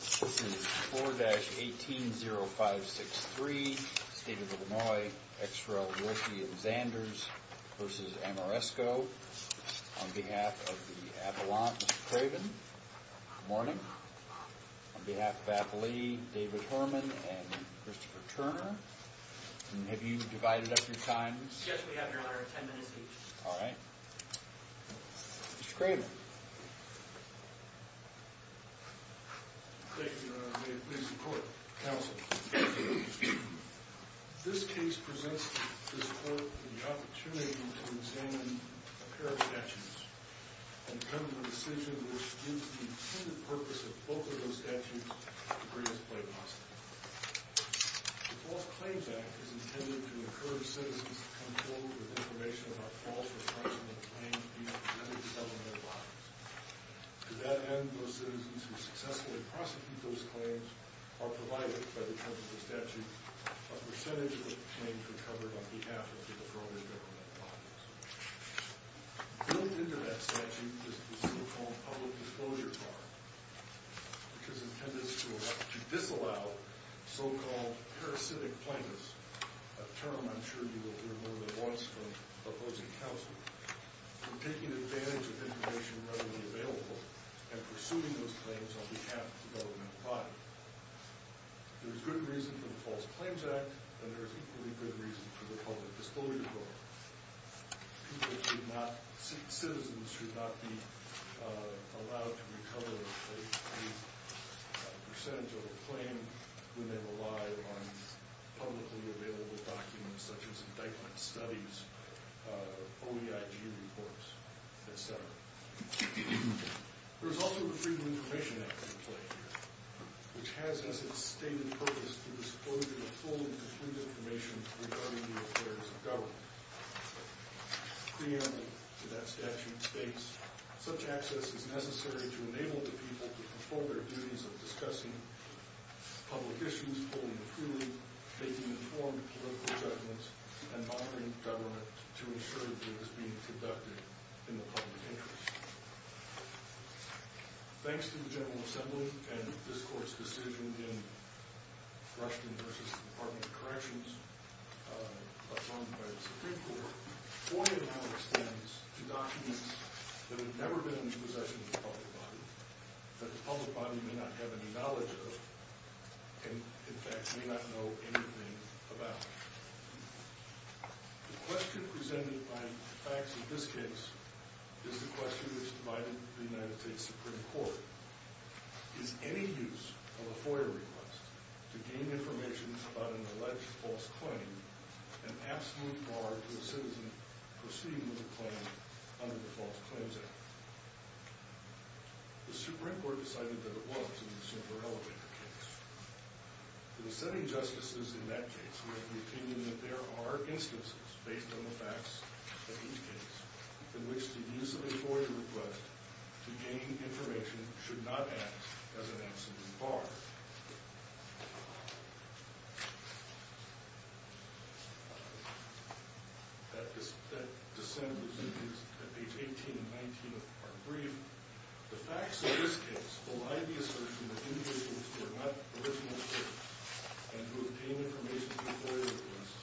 This is 4-180563, State of Illinois, XRL Wolfey and Xanders v. Ameresco. On behalf of the Avalanche, Mr. Craven, good morning. On behalf of Appalachee, David Horman and Christopher Turner. And have you divided up your times? Yes, we have your order, 10 minutes each. Alright. Mr. Craven. Thank you, may it please the court. Counsel. This case presents this court with the opportunity to examine a pair of statutes and come to a decision which gives the intended purpose of both of those statutes the greatest play possible. The False Claims Act is intended to encourage citizens to come forward with information about false or fraudulent claims being presented to government bodies. To that end, those citizens who successfully prosecute those claims are provided, by the terms of the statute, a percentage of the claims recovered on behalf of the deferred government bodies. Built into that statute is the so-called Public Disclosure Card, which is intended to disallow so-called parasitic plaintiffs, a term I'm sure you will hear more than once from opposing counsel, from taking advantage of information readily available and pursuing those claims on behalf of the government body. There is good reason for the False Claims Act, and there is equally good reason for the Public Disclosure Card. Citizens should not be allowed to recover a percentage of a claim when they rely on publicly available documents such as indictment studies, OEIG reports, etc. There is also the Freedom of Information Act in play here, which has as its stated purpose to disclose the fully-confirmed information regarding the affairs of government. Preamble to that statute states, such access is necessary to enable the people to perform their duties of discussing public issues fully and freely, making informed political judgments, and monitoring the government to ensure that it is being conducted in the public interest. Thanks to the General Assembly and this Court's decision in Rushton v. Department of Corrections by the Supreme Court, FOIA now extends to documents that have never been in the possession of the public body, that the public body may not have any knowledge of, and in fact may not know anything about. The question presented by the facts of this case is the question which divided the United States Supreme Court. Is any use of a FOIA request to gain information about an alleged false claim an absolute bar to a citizen proceeding with a claim under the False Claims Act? The Supreme Court decided that it was in the Silver Elevator case. In the setting justices in that case were of the opinion that there are instances, based on the facts of each case, in which the use of a FOIA request to gain information should not act as an absolute bar. That dissent was at page 18 and 19 of our brief. The facts of this case belie the assertion that individuals who are not original citizens and who obtain information through FOIA requests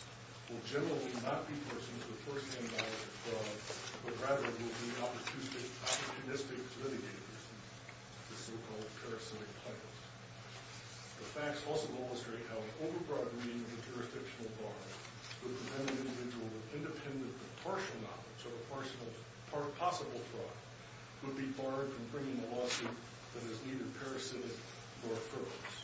will generally not be persons with first-hand knowledge of fraud, but rather will be opportunistic litigators, the so-called parasitic tycoons. The facts also illustrate how an overbroad reading of a jurisdictional bar would prevent an individual with independent but partial knowledge of a possible fraud would be barred from bringing a lawsuit that is neither parasitic nor fervent.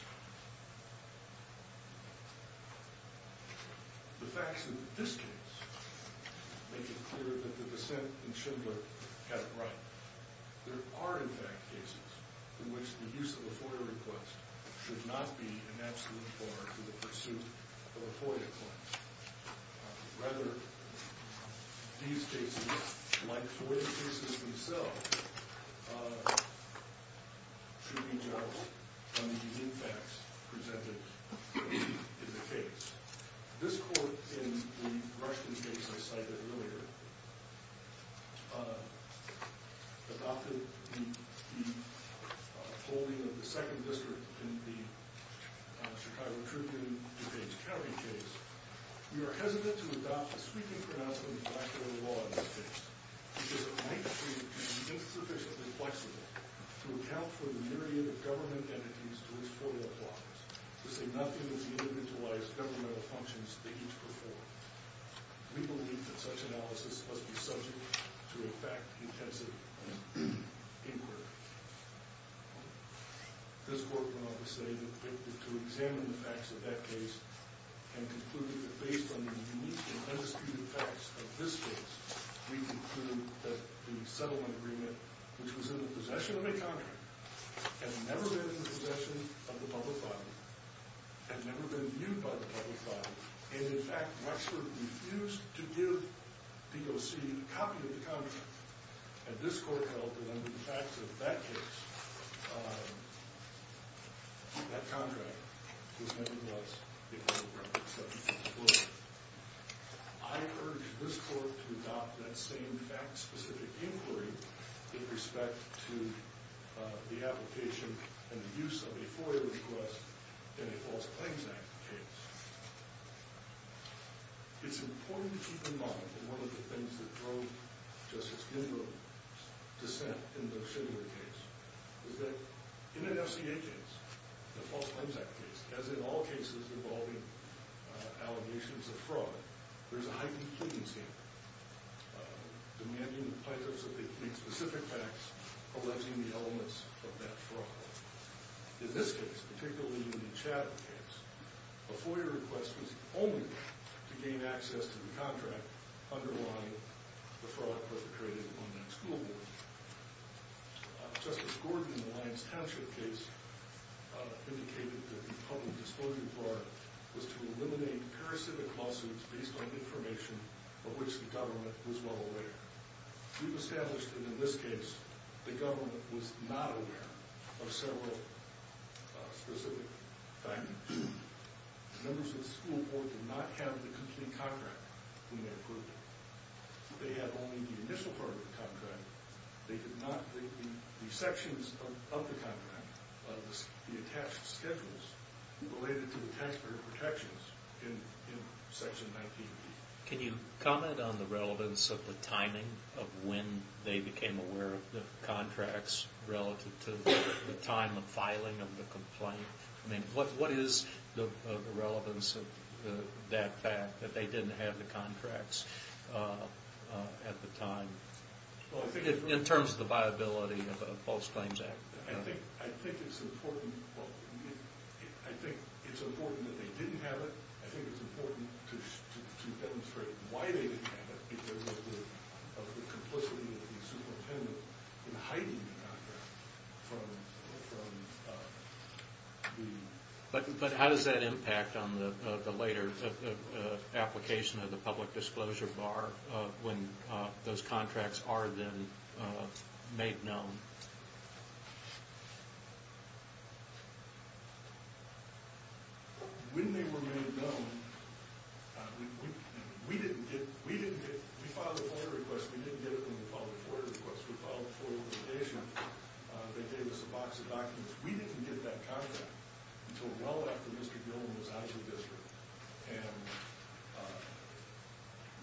The facts of this case make it clear that the dissent in Schindler had it right. There are, in fact, cases in which the use of a FOIA request should not be an absolute bar in the pursuit of a FOIA claim. Rather, these cases, like FOIA cases themselves, should be judged on the impacts presented in the case. This court, in the Rushton case I cited earlier, adopted the holding of the second district in the Chicago Tribune, DuPage County case. We are hesitant to adopt the sweeping pronouncement of bilateral law in this case, because it might be insufficiently flexible to account for the myriad of government entities to use FOIA blockers to say nothing of the individualized governmental functions they each perform. We believe that such analysis must be subject to, in fact, intensive inquiry. This court went on to say that to examine the facts of that case and conclude that, based on the unique and undisputed facts of this case, we conclude that the settlement agreement, which was in the possession of a country, had never been in the possession of the public body, had never been viewed by the public body, and, in fact, Wexford refused to give DOC a copy of the contract. And this court held that, under the facts of that case, that contract was never blessed because of records such as this one. I urge this court to adopt that same fact-specific inquiry with respect to the application and the use of a FOIA request in a False Claims Act case. It's important to keep in mind that one of the things that drove Justice Ginsburg's dissent in the Schindler case is that in an FCA case, a False Claims Act case, as in all cases involving allegations of fraud, there's a heightened leniency demanding that plaintiffs that they claim specific facts alleging the elements of that fraud. In this case, particularly in the Chatham case, a FOIA request was only to gain access to the contract underlying the fraud perpetrated on that school board. Justice Gordon, in the Lyons Township case, indicated that the public disclosure of fraud was to eliminate parasitic lawsuits based on information of which the government was well aware. We've established that in this case, the government was not aware of several specific findings. Members of the school board did not have the complete contract when they approved it. They had only the initial part of the contract. They did not, the sections of the contract, the attached schedules related to the taxpayer protections in Section 19B. Can you comment on the relevance of the timing of when they became aware of the contracts relative to the time of filing of the complaint? I mean, what is the relevance of that fact, that they didn't have the contracts at the time, in terms of the viability of a False Claims Act? I think it's important that they didn't have it. I think it's important to demonstrate why they didn't have it, because of the complicity of the superintendent in hiding the contract from the... But how does that impact on the later application of the public disclosure bar, when those contracts are then made known? When they were made known, we didn't get... We filed a FOIA request. We didn't get it when we filed a FOIA request. We filed a FOIA application. They gave us a box of documents. We didn't get that contract until well after Mr. Gilman was out of the district. And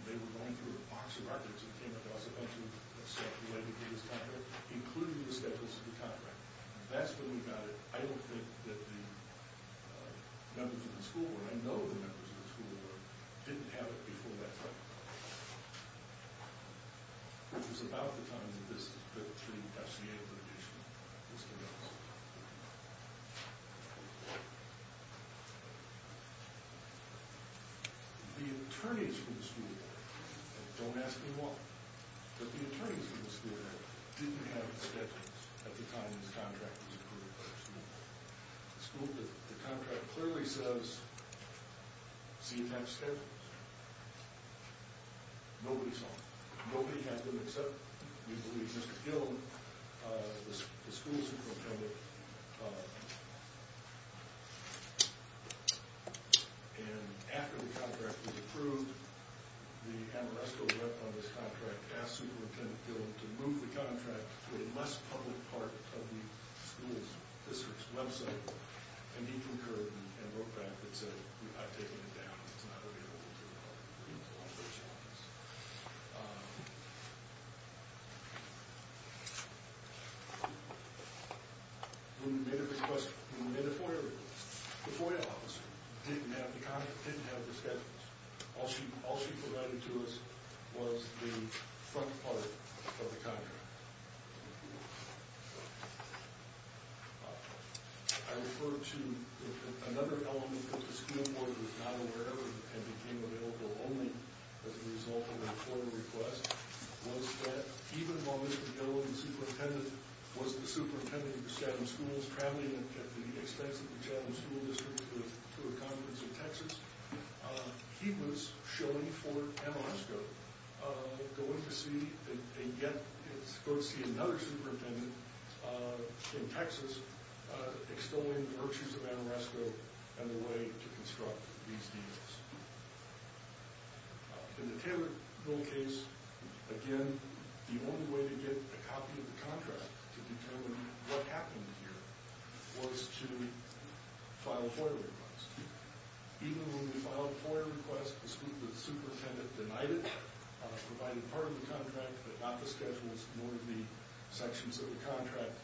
they were going through a box of records that came across eventually that said the That's when we got it. I don't think that the members of the school board, I know the members of the school board, didn't have it before that time, which was about the time that this FCA litigation was conducted. The attorneys from the school board, and don't ask me why, but the attorneys from the school board didn't have the schedules at the time this contract was approved by the school board. The contract clearly says, see you have schedules. Nobody saw them. Nobody had them except, we believe, Mr. Gilman, the school superintendent. And after the contract was approved, the Amoresco rep on this contract asked Superintendent Gilman to move the contract to a less public part of the school's district's website, and he concurred and wrote back and said, I've taken it down. It's not available to the public. We made a request. We made a FOIA request. The FOIA officer didn't have the contract, didn't have the schedules. All she provided to us was the front part of the contract. I refer to another element that the school board was not aware of and became available only as a result of a FOIA request was that even though Mr. Gilman, the superintendent, was the superintendent of the Chatham schools, traveling at the expense of the Chatham school district to a conference in Texas, he was showing for Amoresco, going to see if they could get him to go see another superintendent in Texas, extolling the virtues of Amoresco and the way to construct these deals. In the Taylor Bill case, again, the only way to get a copy of the contract to determine what happened here was to file a FOIA request. Even when we filed a FOIA request, the superintendent denied it, provided part of the contract, but not the schedules nor the sections of the contract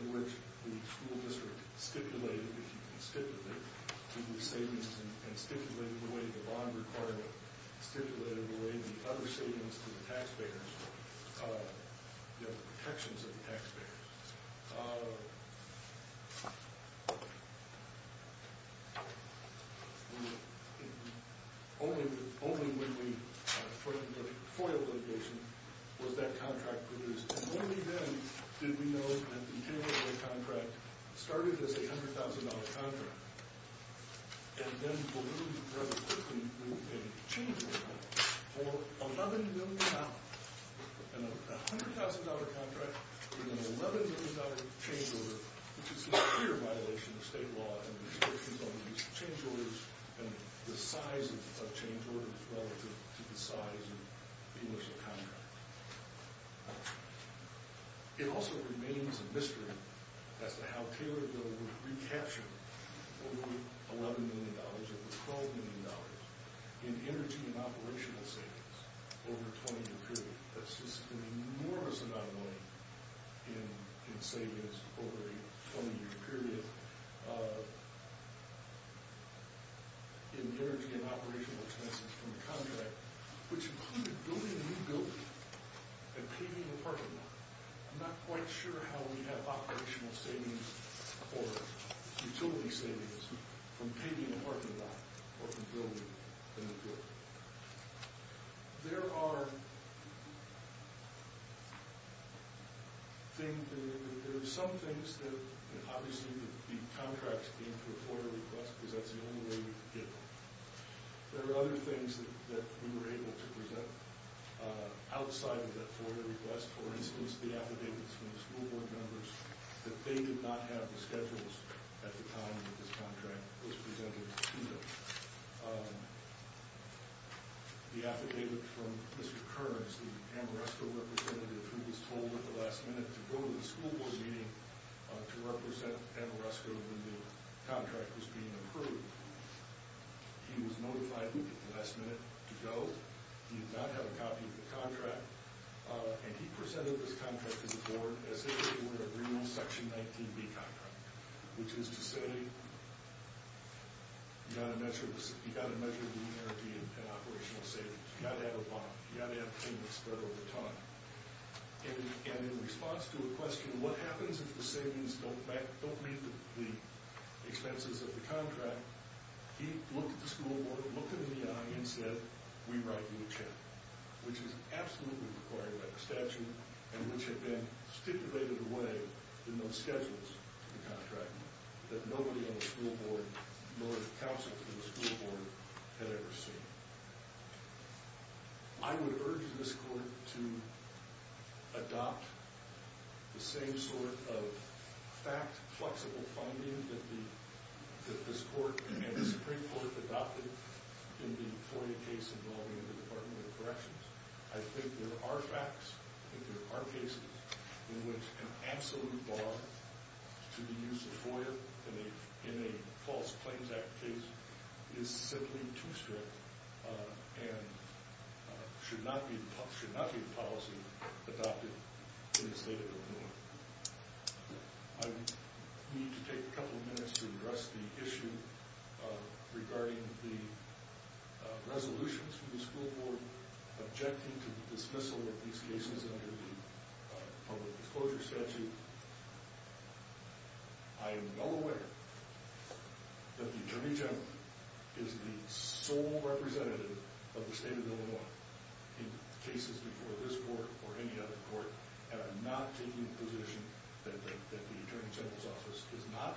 in which the school district stipulated, if you can stipulate, the savings and stipulated the way the bond requirement, stipulated the way the other savings to the taxpayers, the protections of the taxpayers. Only when we put in the FOIA litigation was that contract produced and only then did we know that the Taylor Bill contract started as a $100,000 contract and then ballooned rather quickly with a change order for $11 million. A $100,000 contract with an $11 million change order, which is a clear violation of state law and restrictions on the use of change orders and the size of change orders relative to the size of the initial contract. It also remains a mystery as to how Taylor Bill would recapture over $11 million or over $12 million in energy and operational savings over a 20-year period. That's just an enormous amount of money in savings over a 20-year period in energy and operational expenses from the contract, which included building a new building and paving a parking lot. I'm not quite sure how we have operational savings or utility savings from paving a parking lot or from building a new building. There are some things that obviously the contracts came to a FOIA request because that's the only way we could get them. There are other things that we were able to present outside of that FOIA request. For instance, the affidavits from the school board members that they did not have the schedules at the time that this contract was presented to them. The affidavit from Mr. Kearns, the Amoresco representative who was told at the last minute to go to the school board meeting to represent Amoresco when the contract was being approved. He was notified at the last minute to go. He did not have a copy of the contract, and he presented this contract to the board as which is to say, you've got to measure the energy and operational savings. You've got to have a bond. You've got to have payments spread over time. In response to a question, what happens if the savings don't meet the expenses of the contract, he looked at the school board, looked them in the eye, and said, we write you a check, which is absolutely required by the statute and which had been stipulated away in those schedules for the contract that nobody on the school board, nor the counsel to the school board, had ever seen. I would urge this court to adopt the same sort of fact-flexible finding that this court and the Supreme Court adopted in the FOIA case involving the Department of Corrections. I think there are facts, I think there are cases in which an absolute bar to the use of FOIA in a false claims act case is simply too strict and should not be the policy adopted in the state of Illinois. I need to take a couple of minutes to address the issue regarding the resolutions from the Supreme Court rejecting the dismissal of these cases under the public disclosure statute. I am well aware that the Attorney General is the sole representative of the state of Illinois in cases before this court or any other court, and I'm not taking the position that the Attorney General's office is not,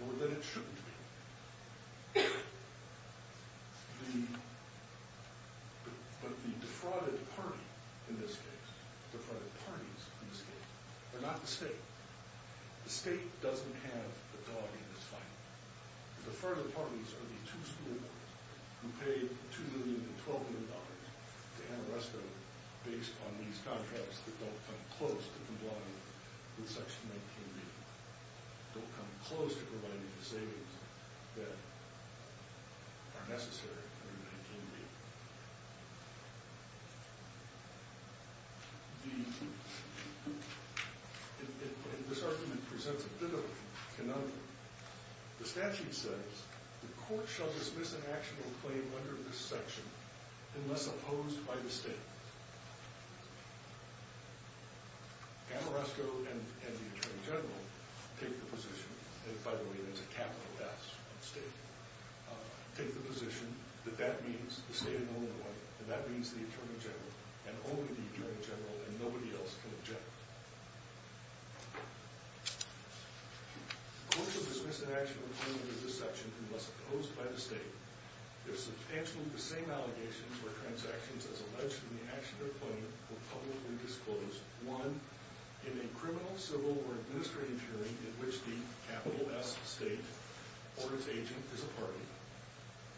nor that it shouldn't be. But the defrauded party in this case, defrauded parties in this case, are not the state. The state doesn't have the dog in this fight. The defrauded parties are the two school boards who paid $2,200,000 to Ann Arresto based on these contracts that don't come close to complying with Section 19B. Don't come close to providing the savings that are necessary under 19B. This argument presents a difficult conundrum. The statute says the court shall dismiss an actionable claim under this section unless opposed by the state. Ann Arresto and the Attorney General take the position, and by the way there's a capital S on state, take the position that that means the state of Illinois, and that means the Attorney General, and only the Attorney General, and nobody else can object. The court shall dismiss an actionable claim under this section unless opposed by the state. There are substantially the same allegations where transactions as alleged in the actionable claim were publicly disclosed. One, in a criminal, civil, or administrative hearing in which the capital S state or its agent is a party.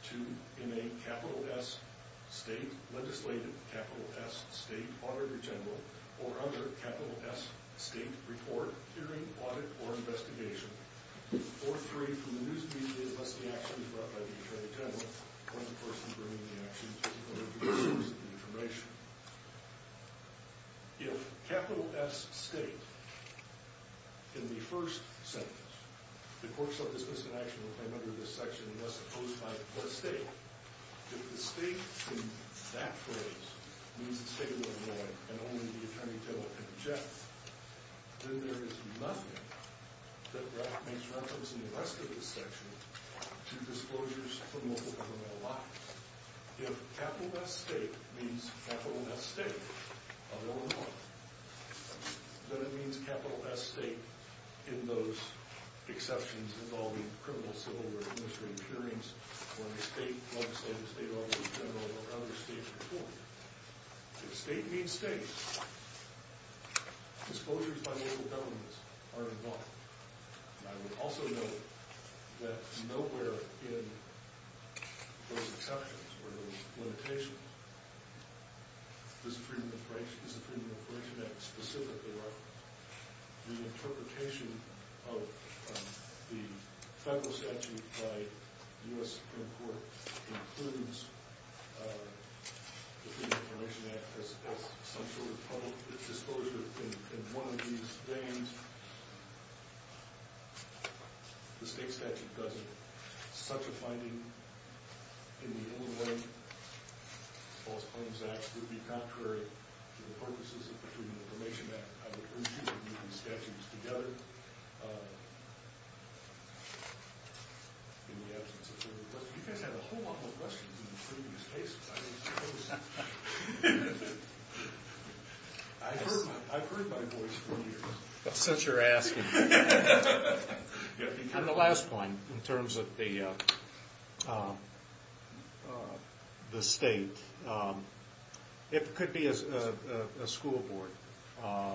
Two, in a capital S state, legislated capital S state, Auditor General, or other capital S state report, hearing, audit, or investigation. Or three, from the news media, unless the action is brought by the Attorney General, or the person bringing the action, or the source of the information. If capital S state in the first sentence, the court shall dismiss an actionable claim under this section unless opposed by the state. If the state in that phrase means the state of Illinois and only the Attorney General can object, then there is nothing that makes reference in the rest of this section to disclosures from local governmental law. If capital S state means capital S state of Illinois, then it means capital S state in those exceptions involving criminal, civil, or administrative hearings where the state legislated state Auditor General or other state report. If state means state, disclosures by local governments are involved. And I would also note that nowhere in those exceptions or those limitations is the Freedom of Information Act specifically referenced. The interpretation of the federal statute by the U.S. Supreme Court includes the Freedom of Information Act as some sort of public disclosure. In one of these names, the state statute doesn't. Such a finding in the Illinois False Claims Act would be contrary to the purposes of the U.S. Supreme Court in the absence of further questions. You guys had a whole lot more questions in the previous cases. I heard my voice from you. Since you're asking. And the last point in terms of the state. It could be a school board.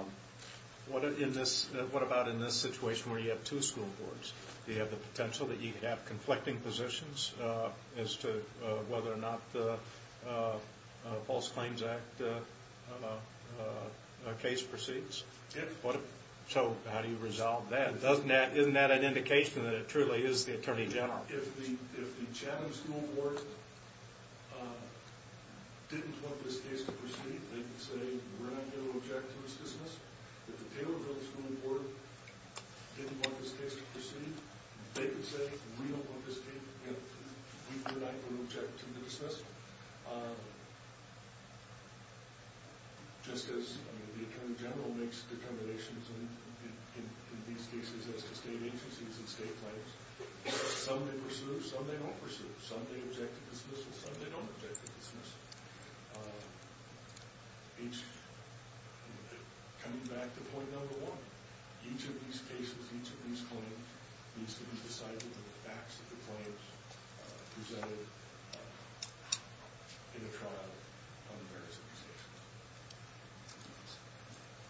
What about in this situation where you have two school boards? Do you have the potential that you could have conflicting positions as to whether or not the False Claims Act case proceeds? So how do you resolve that? Isn't that an indication that it truly is the Attorney General? If the Chatham School Board didn't want this case to proceed, they could say, we're not going to object to the dismissal. If the Taylorville School Board didn't want this case to proceed, they could say, we don't want this case, we're not going to object to the dismissal. Just as the Attorney General makes accommodations in these cases as to state agencies and state claims, some they pursue, some they don't pursue. Some they object to dismissal, some they don't object to dismissal. Coming back to point number one, each of these cases, each of these claims, needs to be decided with the facts of the claims presented in the trial on the various of these cases.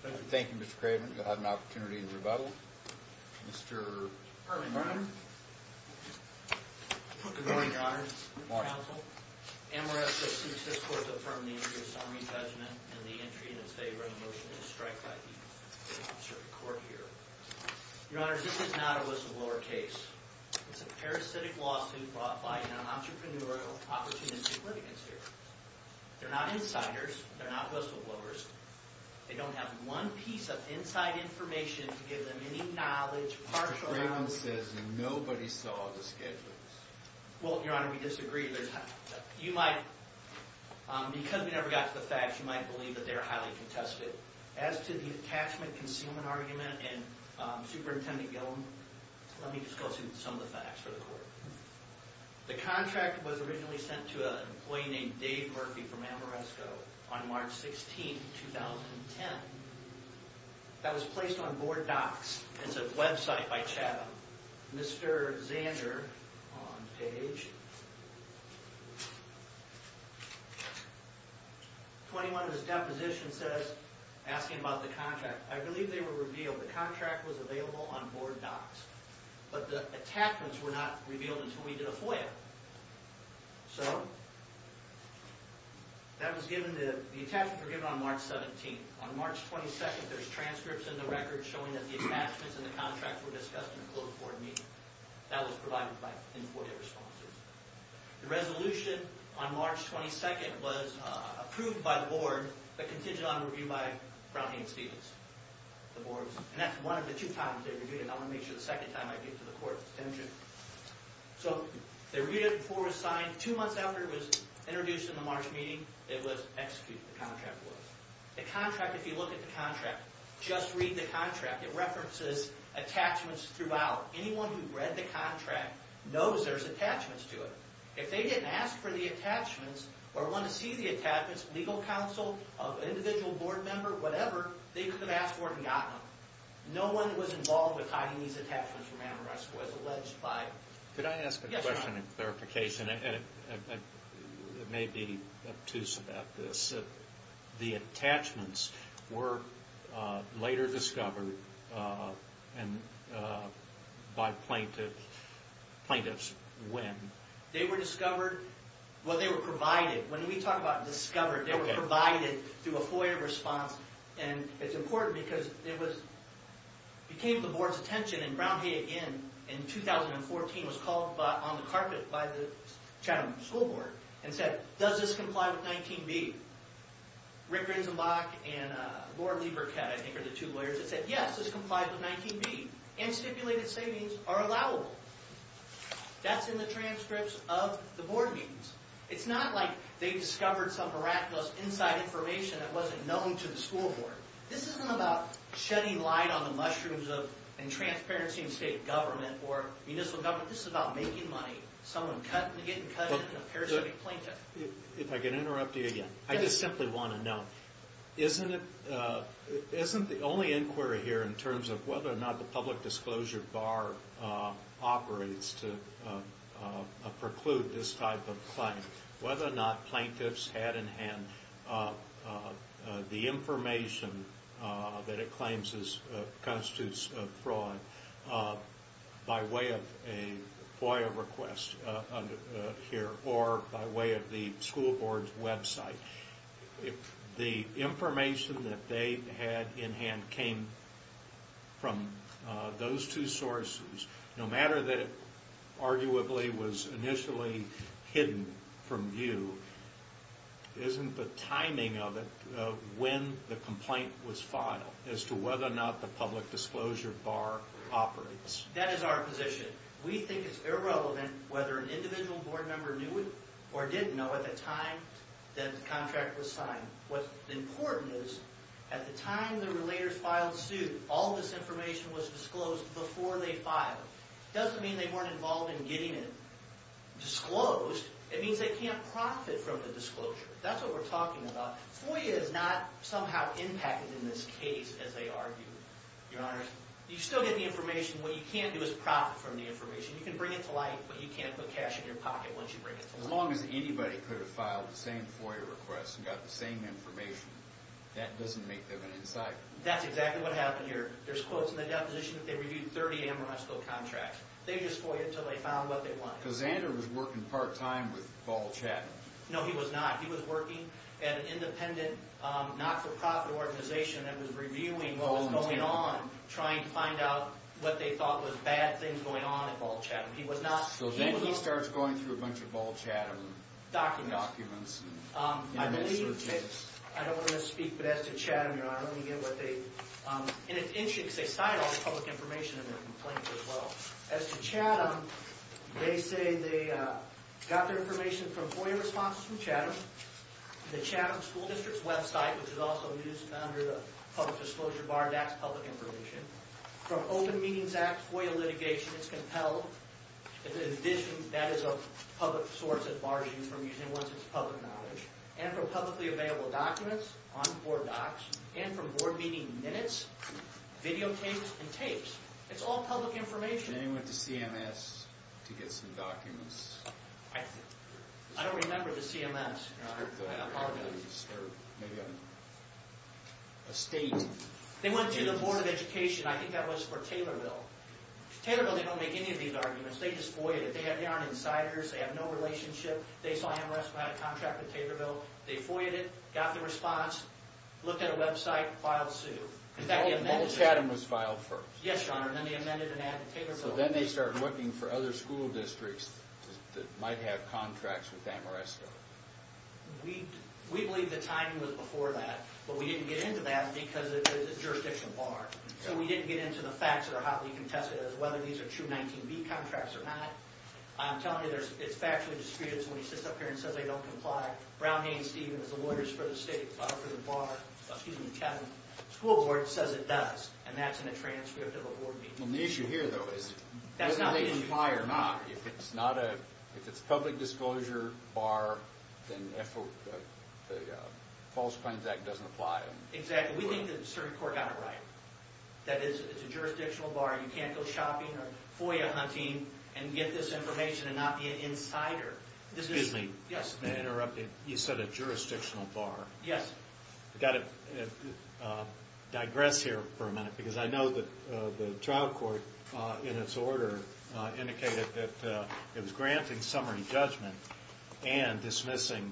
Thank you. Thank you, Mr. Craven. You'll have an opportunity to rebuttal. Mr. Perlman. Good morning, Your Honor. Good morning, Your Honor. Good morning, Counsel. And we're assisting this court to affirm the interest of summary judgment and the entry in its favor in the motion to strike by the court here. Your Honor, this is not a whistleblower case. It's a parasitic lawsuit brought by an entrepreneurial opportunistic litigant here. They're not insiders. They're not whistleblowers. They don't have one piece of inside information to give them any knowledge, partial knowledge. Mr. Craven says nobody saw the schedules. Well, Your Honor, we disagree. You might, because we never got to the facts, you might believe that they're highly contested. As to the attachment concealment argument and Superintendent Gillum, let me just go through some of the facts for the court. The contract was originally sent to an employee named Dave Murphy from Amoresco on March 16, 2010. That was placed on BoardDocs. It's a website by Chatham. Mr. Zander on page 21 of his deposition says, asking about the contract, I believe they were revealed the contract was available on BoardDocs, but the attachments were not revealed until we did a FOIA. So, that was given to, the attachments were given on March 17. On March 22, there's transcripts in the record showing that the attachments in the contract were discussed in a closed board meeting. That was provided in FOIA responses. The resolution on March 22 was approved by the board, but contingent on review by Brown, Haynes, Stephens, the boards. And that's one of the two times they reviewed it. I want to make sure the second time I get to the court. So, they reviewed it before it was signed. Two months after it was introduced in the March meeting, it was executed, the contract was. The contract, if you look at the contract, just read the contract. It references attachments throughout. Anyone who read the contract knows there's attachments to it. If they didn't ask for the attachments, or want to see the attachments, legal counsel, individual board member, whatever, they could have asked for it and got them. No one who was involved with hiding these attachments from Amherst was alleged by... Could I ask a question in clarification? It may be obtuse about this. The attachments were later discovered by plaintiffs when? They were discovered... Well, they were provided. When we talk about discovered, they were provided through a FOIA response. And it's important because it was... It came to the board's attention, and Brown, Haynes, again, in 2014, was called on the carpet by the Chatham School Board, and said, does this comply with 19B? Rick Rinsenbach and Laura Lieberkette, I think, are the two lawyers that said, yes, this complies with 19B. And stipulated savings are allowable. That's in the transcripts of the board meetings. It's not like they discovered some miraculous inside information that wasn't known to the school board. This isn't about shedding light on the mushrooms of transparency in state government or municipal government. This is about making money. Someone getting cut into a parasitic plaintiff. If I can interrupt you again. I just simply want to know. Isn't the only inquiry here in terms of whether or not the public disclosure bar operates to preclude this type of claim, whether or not plaintiffs had in hand the information that it claims constitutes fraud by way of a FOIA request here, or by way of the school board's website? If the information that they had in hand came from those two sources, no matter that it arguably was initially hidden from view, isn't the timing of it when the complaint was filed as to whether or not the public disclosure bar operates? That is our position. We think it's irrelevant whether an individual board member knew it or didn't know at the time that the contract was signed. What's important is, at the time the relators filed suit, all this information was disclosed before they filed. It doesn't mean they weren't involved in getting it disclosed. It means they can't profit from the disclosure. That's what we're talking about. FOIA is not somehow impacted in this case, as they argued. You still get the information. What you can't do is profit from the information. You can bring it to light, but you can't put cash in your pocket once you bring it to light. As long as anybody could have filed the same FOIA request and got the same information, that doesn't make them an insider. That's exactly what happened here. There's quotes in the deposition that they reviewed 30 Amarantzville contracts. They just FOIA'd until they found what they wanted. Because Xander was working part-time with Paul Chatman. No, he was not. He was working at an independent, not-for-profit organization that was reviewing what was going on. Trying to find out what they thought was bad things going on at Paul Chatman. He was not. So then he starts going through a bunch of Paul Chatman documents. Documents. MS searches. I don't want to misspeak, but as to Chatman, Your Honor, let me get what they... And it's interesting because they cited all this public information in their complaint as well. As to Chatman, they say they got their information from FOIA responses from Chatman. The Chatman School District's website, which is also used under the Public Disclosure Bar. That's public information. From Open Meetings Act FOIA litigation. It's compelled. In addition, that is a public source. It bars you from using it once it's public knowledge. And from publicly available documents on board docs. And from board meeting minutes, videotapes, and tapes. It's all public information. And they went to CMS to get some documents. I don't remember the CMS, Your Honor. A state... They went to the Board of Education. I think that was for Taylorville. Taylorville, they don't make any of these arguments. They just FOIA'd it. They aren't insiders. They have no relationship. They saw Amherst had a contract with Taylorville. They FOIA'd it. Got the response. Looked at a website. Filed suit. Paul Chatman was filed first. Yes, Your Honor. And then they amended and added Taylorville. So then they start looking for other school districts that might have contracts with Amherst. We believe the timing was before that. But we didn't get into that because it's a jurisdictional bar. So we didn't get into the facts that are hotly contested. Whether these are true 19B contracts or not. I'm telling you, it's factually discreet. It's when he sits up here and says they don't comply. Brown, Haynes, Stevens, the lawyers for the state, for the bar. Excuse me, Kevin. School board says it does. And that's in a transcript of a board meeting. The issue here, though, is whether they comply or not. If it's a public disclosure bar, then the False Claims Act doesn't apply. Exactly. We think the circuit court got it right. That it's a jurisdictional bar. You can't go shopping or FOIA hunting and get this information and not be an insider. Excuse me. Yes. May I interrupt? You said a jurisdictional bar. Yes. I've got to digress here for a minute because I know that the trial court, in its order, indicated that it was granting summary judgment and dismissing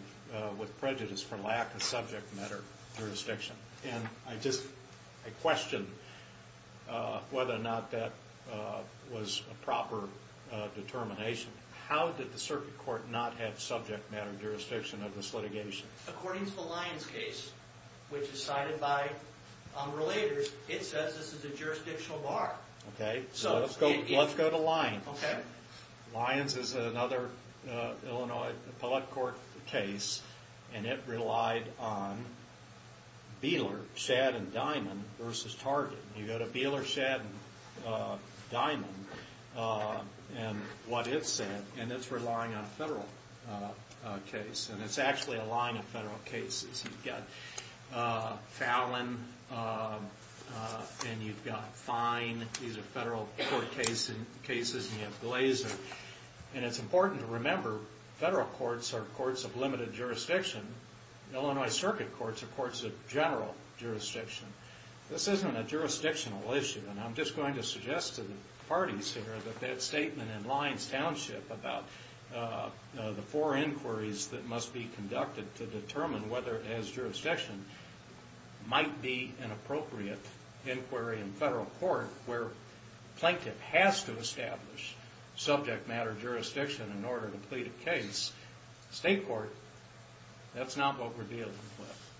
with prejudice for lack of subject matter jurisdiction. And I just question whether or not that was a proper determination. How did the circuit court not have subject matter jurisdiction of this litigation? According to the Lyons case, which is cited by relators, it says this is a jurisdictional bar. Okay. Let's go to Lyons. Okay. Lyons is another Illinois appellate court case, and it relied on Beeler, Shad, and Diamond versus Target. You go to Beeler, Shad, and Diamond and what it said, and it's relying on a federal case. And it's actually a line of federal cases. You've got Fallon, and you've got Fine. These are federal court cases, and you have Glazer. And it's important to remember federal courts are courts of limited jurisdiction. Illinois circuit courts are courts of general jurisdiction. This isn't a jurisdictional issue. And I'm just going to suggest to the parties here that that statement in Lyons Township about the four inquiries that must be conducted to determine whether it has jurisdiction might be an appropriate inquiry in federal court where Plaintiff has to establish subject matter jurisdiction in order to plead a case. State court, that's not what we're dealing with.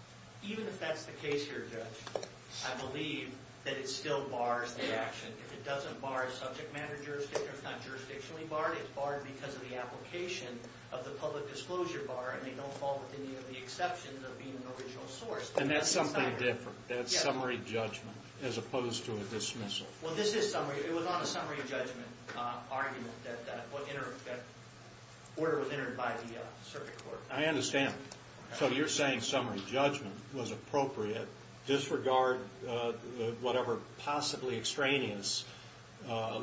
Even if that's the case here, Judge, I believe that it still bars the action. It doesn't bar subject matter jurisdiction. It's not jurisdictionally barred. It's barred because of the application of the public disclosure bar, and they don't fall within any of the exceptions of being an original source. And that's something different. That's summary judgment as opposed to a dismissal. Well, this is summary. It was on a summary judgment argument that that order was entered by the circuit court. I understand. So you're saying summary judgment was appropriate. Disregard whatever possibly extraneous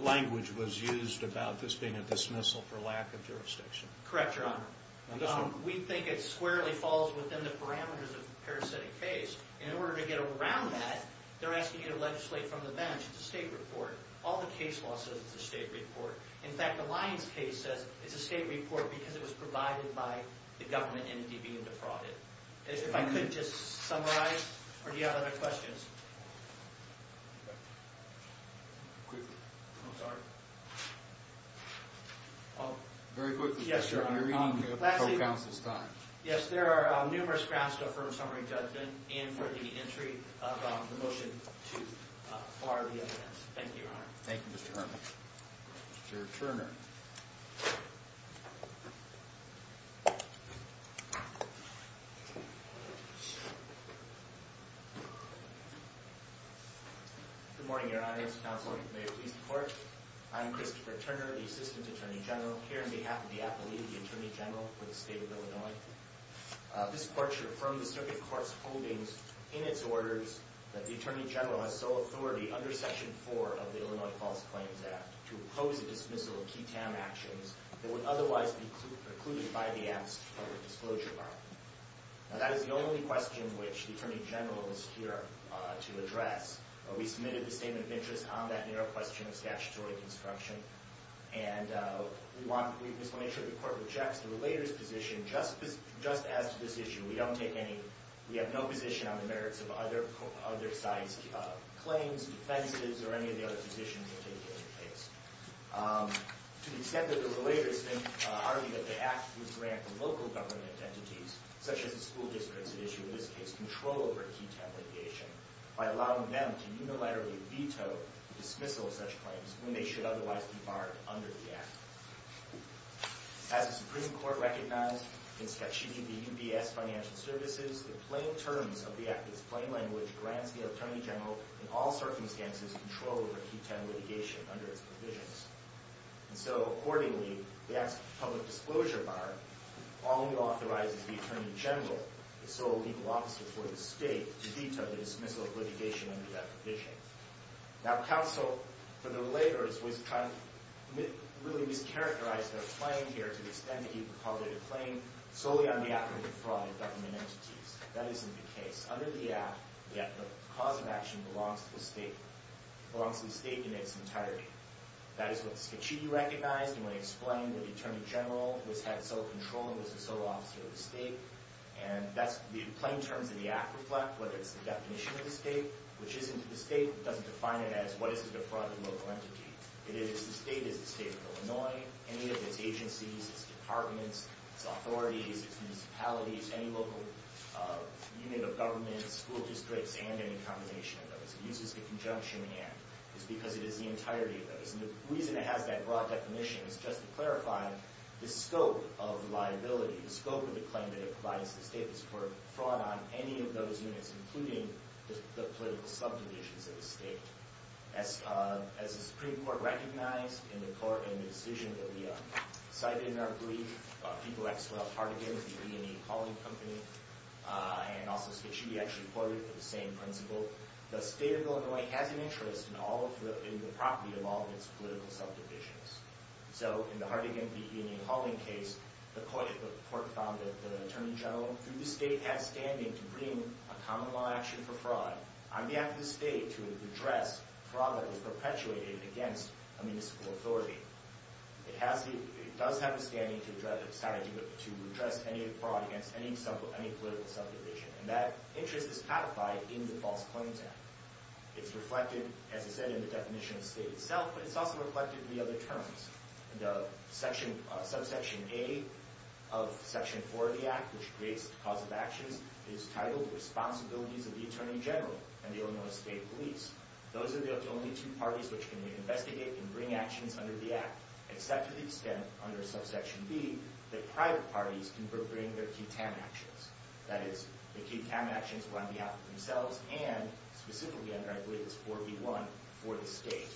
language was used about this being a dismissal for lack of jurisdiction. Correct, Your Honor. We think it squarely falls within the parameters of a parasitic case. In order to get around that, they're asking you to legislate from the bench. It's a state report. All the case law says it's a state report. In fact, the Lyons case says it's a state report because it was provided by the government and they're being defrauded. If I could just summarize. Or do you have other questions? Quickly. I'm sorry. Very quickly. Yes, Your Honor. You're eating co-counsel's time. Yes, there are numerous grounds to affirm summary judgment and for the entry of the motion to bar the evidence. Thank you, Your Honor. Thank you, Mr. Herman. Mr. Turner. Good morning, Your Honor. As counsel, may it please the Court. I'm Christopher Turner, the Assistant Attorney General here on behalf of the appellee, the Attorney General for the State of Illinois. This Court should affirm the circuit court's holdings in its orders that the Attorney General has sole authority under Section 4 of the Illinois False Claims Act to oppose the dismissal of key TAM actions that would otherwise be precluded by the Act's public disclosure requirement. Now, that is the only question which the Attorney General is here to address. We submitted the Statement of Interest on that narrow question of statutory construction and we just want to make sure the Court rejects the relator's position just as to this issue. We have no position on the merits of other sites' claims, defenses, or any of the other positions that take place. To the extent that the relator has argued that the Act would grant the local government entities, such as the school districts that issue, in this case, control over key TAM litigation, by allowing them to unilaterally veto the dismissal of such claims when they should otherwise be barred under the Act. As the Supreme Court recognized in sketching the UBS Financial Services, the plain terms of the Act in its plain language grants the Attorney General, in all circumstances, control over key TAM litigation under its provisions. And so, accordingly, the Act's public disclosure bar only authorizes the Attorney General, the sole legal officer for the State, to veto the dismissal of litigation under that provision. Now, counsel for the relators was kind of really mischaracterized their claim here to the extent that he called it a claim solely on behalf of the defrauded government entities. That isn't the case. It's under the Act that the cause of action belongs to the State. It belongs to the State in its entirety. That is what the sketchee recognized when he explained that the Attorney General who has had sole control and was the sole officer of the State. And that's the plain terms of the Act reflect, whether it's the definition of the State, which isn't the State. It doesn't define it as what is a defrauded local entity. It is the State. It is the State of Illinois. Any of its agencies, its departments, its authorities, its municipalities, any local unit of government, school districts, and any combination of those. It uses the conjunction and. It's because it is the entirety of those. And the reason it has that broad definition is just to clarify the scope of liability, the scope of the claim that it provides to the State. It's for fraud on any of those units, including the political subdivisions of the State. As the Supreme Court recognized in the decision that we cited in our brief, people like Hartigan, the E&E Hauling Company, and also Sketchee actually courted for the same principle. The State of Illinois has an interest in all of the property of all of its political subdivisions. So in the Hartigan v. E&E Hauling case, the court found that the Attorney General, through the State, has standing to bring a common law action for fraud on behalf of the State to address fraud that is perpetuated against a municipal authority. It does have a standing to address any fraud against any political subdivision. And that interest is codified in the False Claims Act. It's reflected, as I said, in the definition of the State itself, but it's also reflected in the other terms. The subsection A of Section 4 of the Act, which creates the cause of actions, is titled Responsibilities of the Attorney General and the Illinois State Police. Those are the only two parties which can reinvestigate and bring actions under the Act, except to the extent, under subsection B, that private parties can bring their QTAM actions. That is, the QTAM actions are on behalf of themselves and, specifically, I believe it's 4B1, for the State.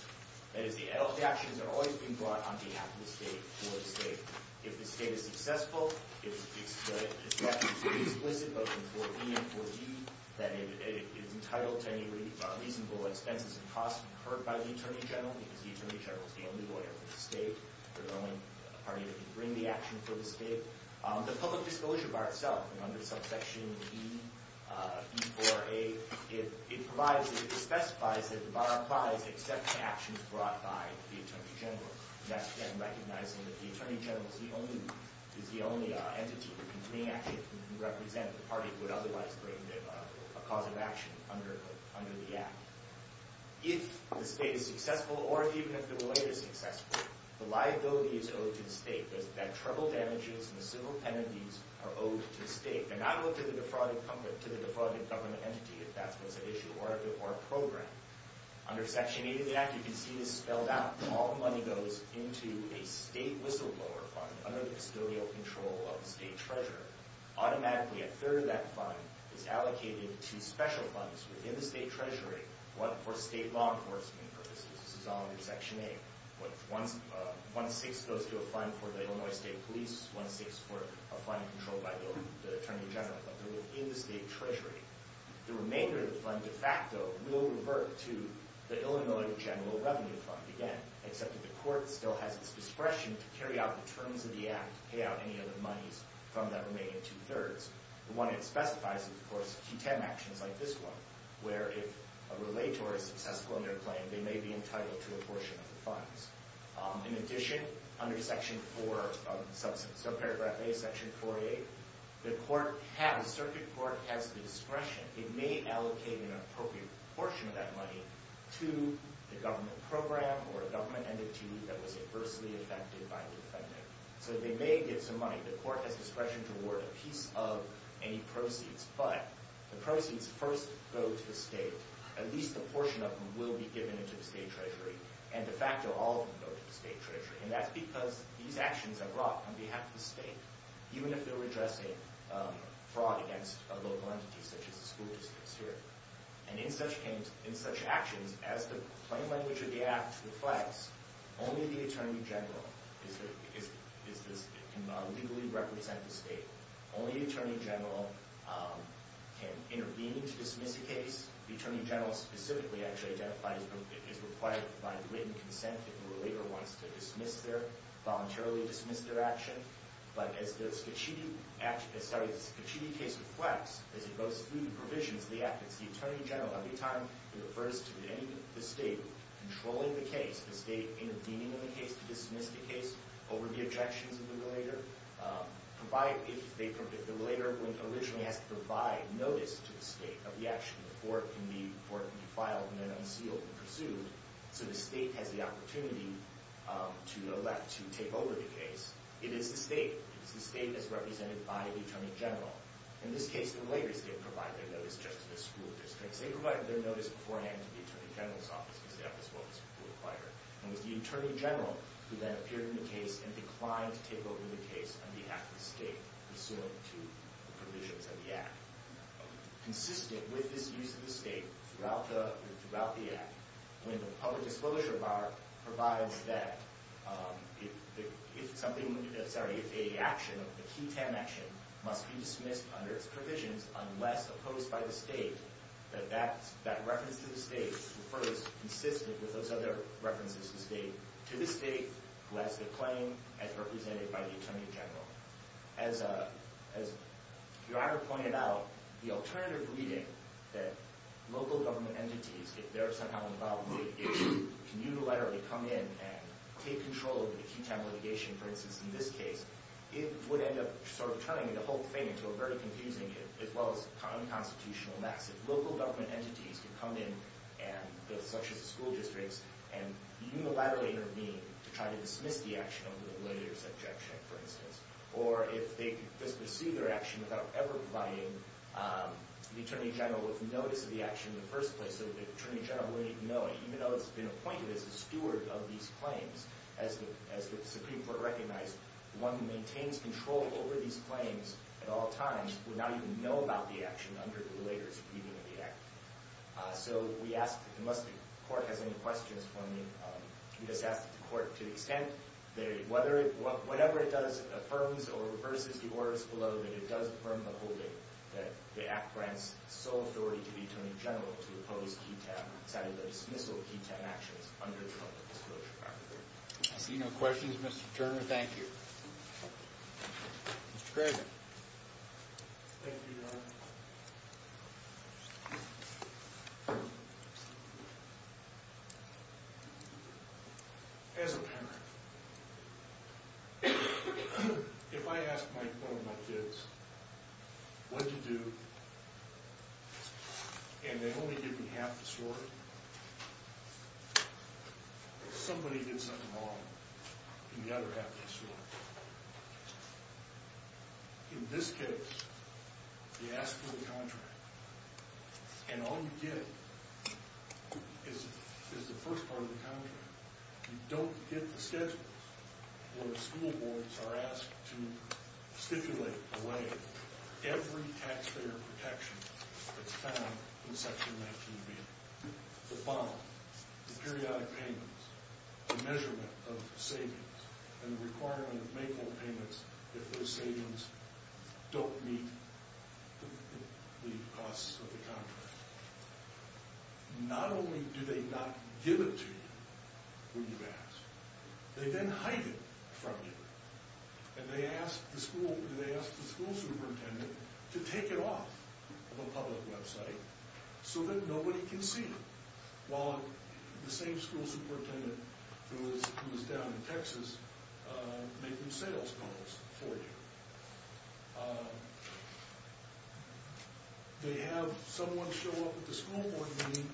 That is, the actions are always being brought on behalf of the State for the State. If the State is successful, it's left explicit, both in 4B and 4D, that it is entitled to any reasonable expenses and costs incurred by the Attorney General because the Attorney General is the only lawyer for the State. They're the only party that can bring the action for the State. The public disclosure bar itself, under subsection E, E4A, it provides, it specifies that the bar applies except to actions brought by the Attorney General. And that's, again, recognizing that the Attorney General is the only entity who can represent the party who would otherwise bring a cause of action under the Act. If the State is successful, or even if the lawyer is successful, the liability is owed to the State. That treble damages and the civil penalties are owed to the State. They're not owed to the defrauded government entity, if that's what's at issue, or a program. Under section 8 of the Act, you can see this spelled out. All the money goes into a State whistleblower fund under the custodial control of the State Treasurer. Automatically, a third of that fund is allocated to special funds within the State Treasury, for State law enforcement purposes. This is all under section 8. One-sixth goes to a fund for the Illinois State Police, one-sixth for a fund controlled by the Attorney General, but they're within the State Treasury. The remainder of the fund, de facto, will revert to the Illinois General Revenue Fund, again, except that the Court still has its discretion to carry out the terms of the Act to pay out any of the monies from that remaining two-thirds. The one it specifies is, of course, Q10 actions like this one, where if a relator is successful in their plan, they may be entitled to a portion of the funds. In addition, under section 4, subparagraph A, section 48, the Circuit Court has the discretion. It may allocate an appropriate portion of that money to the government program or a government entity that was adversely affected by the offending. So they may get some money. The Court has discretion to award a piece of any proceeds. But the proceeds first go to the State. At least a portion of them will be given to the State Treasury. And de facto, all of them go to the State Treasury. And that's because these actions are brought on behalf of the State. Even if they're addressing fraud against a local entity, such as the school districts here. And in such actions, as the plain language of the Act reflects, only the Attorney General can legally represent the State. Only the Attorney General can intervene to dismiss a case. The Attorney General specifically, actually, identifies it as required by written consent if a relator wants to voluntarily dismiss their action. But as the Scaccitti case reflects, as it goes through the provisions of the Act, it's the Attorney General, every time he refers to the State, controlling the case, the State intervening in the case to dismiss the case, over the objections of the relator, if the relator originally has to provide notice to the State of the action before it can be filed and then unsealed and pursued. So the State has the opportunity to elect to take over the case. It is the State. It is the State as represented by the Attorney General. In this case, the relators didn't provide their notice just to the school districts. They provided their notice beforehand to the Attorney General's office, because that was what was required. And it was the Attorney General who then appeared in the case and declined to take over the case on behalf of the State, pursuant to the provisions of the Act. Consistent with this use of the State throughout the Act, when the public disclosure bar provides that if something, sorry, if a action, a QTAM action, must be dismissed under its provisions unless opposed by the State, that that reference to the State refers, consistent with those other references to the State, to the State who has the claim as represented by the Attorney General. As Your Honor pointed out, the alternative reading that local government entities, if they're somehow involved, can unilaterally come in and take control of the QTAM litigation, for instance, in this case, it would end up sort of turning the whole thing into a very confusing, as well as unconstitutional mess. If local government entities could come in, such as the school districts, and unilaterally intervene to try to dismiss the action under the relator's objection, for instance, or if they could just pursue their action without ever providing the Attorney General with notice of the action in the first place so the Attorney General wouldn't even know it, even though it's been appointed as a steward of these claims, as the Supreme Court recognized, one who maintains control over these claims at all times would not even know about the action under the relator's reading of the Act. So we ask, unless the Court has any questions for me, we just ask that the Court, to the extent that whatever it does affirms or reverses the orders below, that it does affirm the whole thing, that the Act grants sole authority to the Attorney General to oppose QTAM, to dismissal of QTAM actions under the Relative Disclosure Act. I see no questions. Mr. Turner, thank you. Mr. Craven. Thank you, Your Honor. if I ask one of my kids, what did you do, and they only give me half the story, somebody did something wrong, and the other half they swore. In this case, you ask for the contract, and all you get is the first part of the contract. You don't get the schedules, where school boards are asked to stipulate away every taxpayer protection that's found in Section 19b. The bond, the periodic payments, the measurement of savings, and the requirement of Mayfair payments if those savings don't meet the costs of the contract. Not only do they not give it to you when you ask, they then hide it from you, and they ask the school superintendent to take it off of a public website so that nobody can see it, while the same school superintendent who is down in Texas making sales calls for you. They have someone show up at the school board meeting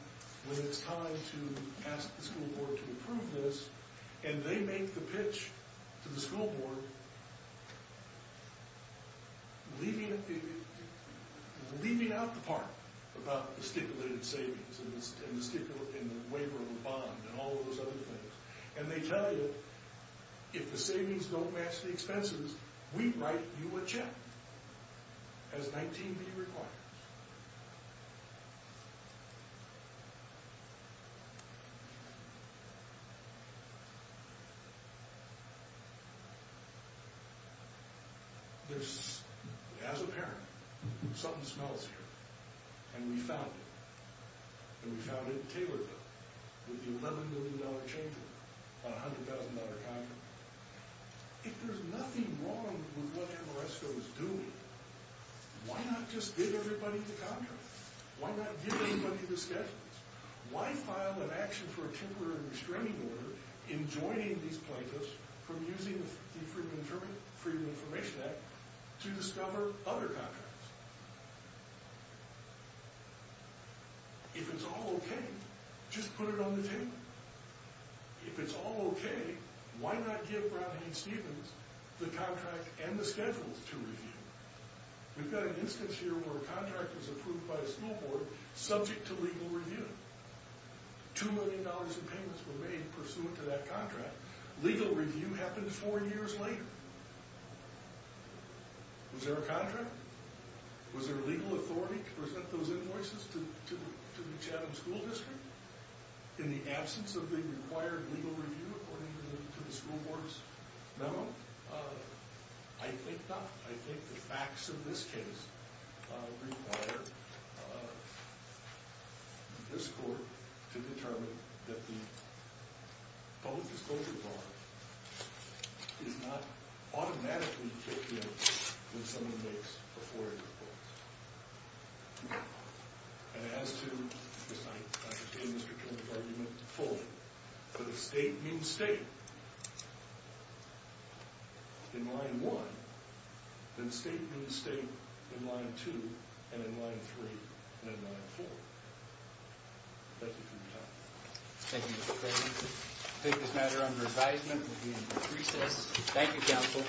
when it's time to ask the school board to approve this, and they make the pitch to the school board, leaving out the part about the stipulated savings and the waiver of the bond and all those other things, and they tell you, if the savings don't match the expenses, we write you a check, as 19b requires. As a parent, something smells here, and we found it, and we found it in Taylorville, with the $11 million change on a $100,000 contract. If there's nothing wrong with what Amoresto is doing, why not just give everybody the contract? Why not give everybody the schedules? Why file an action for a temporary restraining order in joining these plaintiffs from using the Freedom of Information Act to discover other contracts? If it's all okay, just put it on the table. If it's all okay, why not give Brown v. Stevens the contract and the schedules to review? We've got an instance here where a contract was approved by a school board subject to legal review. Two million dollars in payments were made pursuant to that contract. Legal review happened four years later. Was there a contract? Was there legal authority to present those invoices to the Chatham School District in the absence of the required legal review according to the school board's memo? I think not. I think the facts of this case require this court to determine that the public disclosure bar is not automatically filled in when someone makes a four-year clause. And as to, as I say in Mr. Kennedy's argument fully, the state means state. In line one, the state means state in line two and in line three and in line four. That's it from me, Your Honor. Thank you, Mr. Kennedy. I take this matter under advisement. We'll be in recess. Thank you, counsel.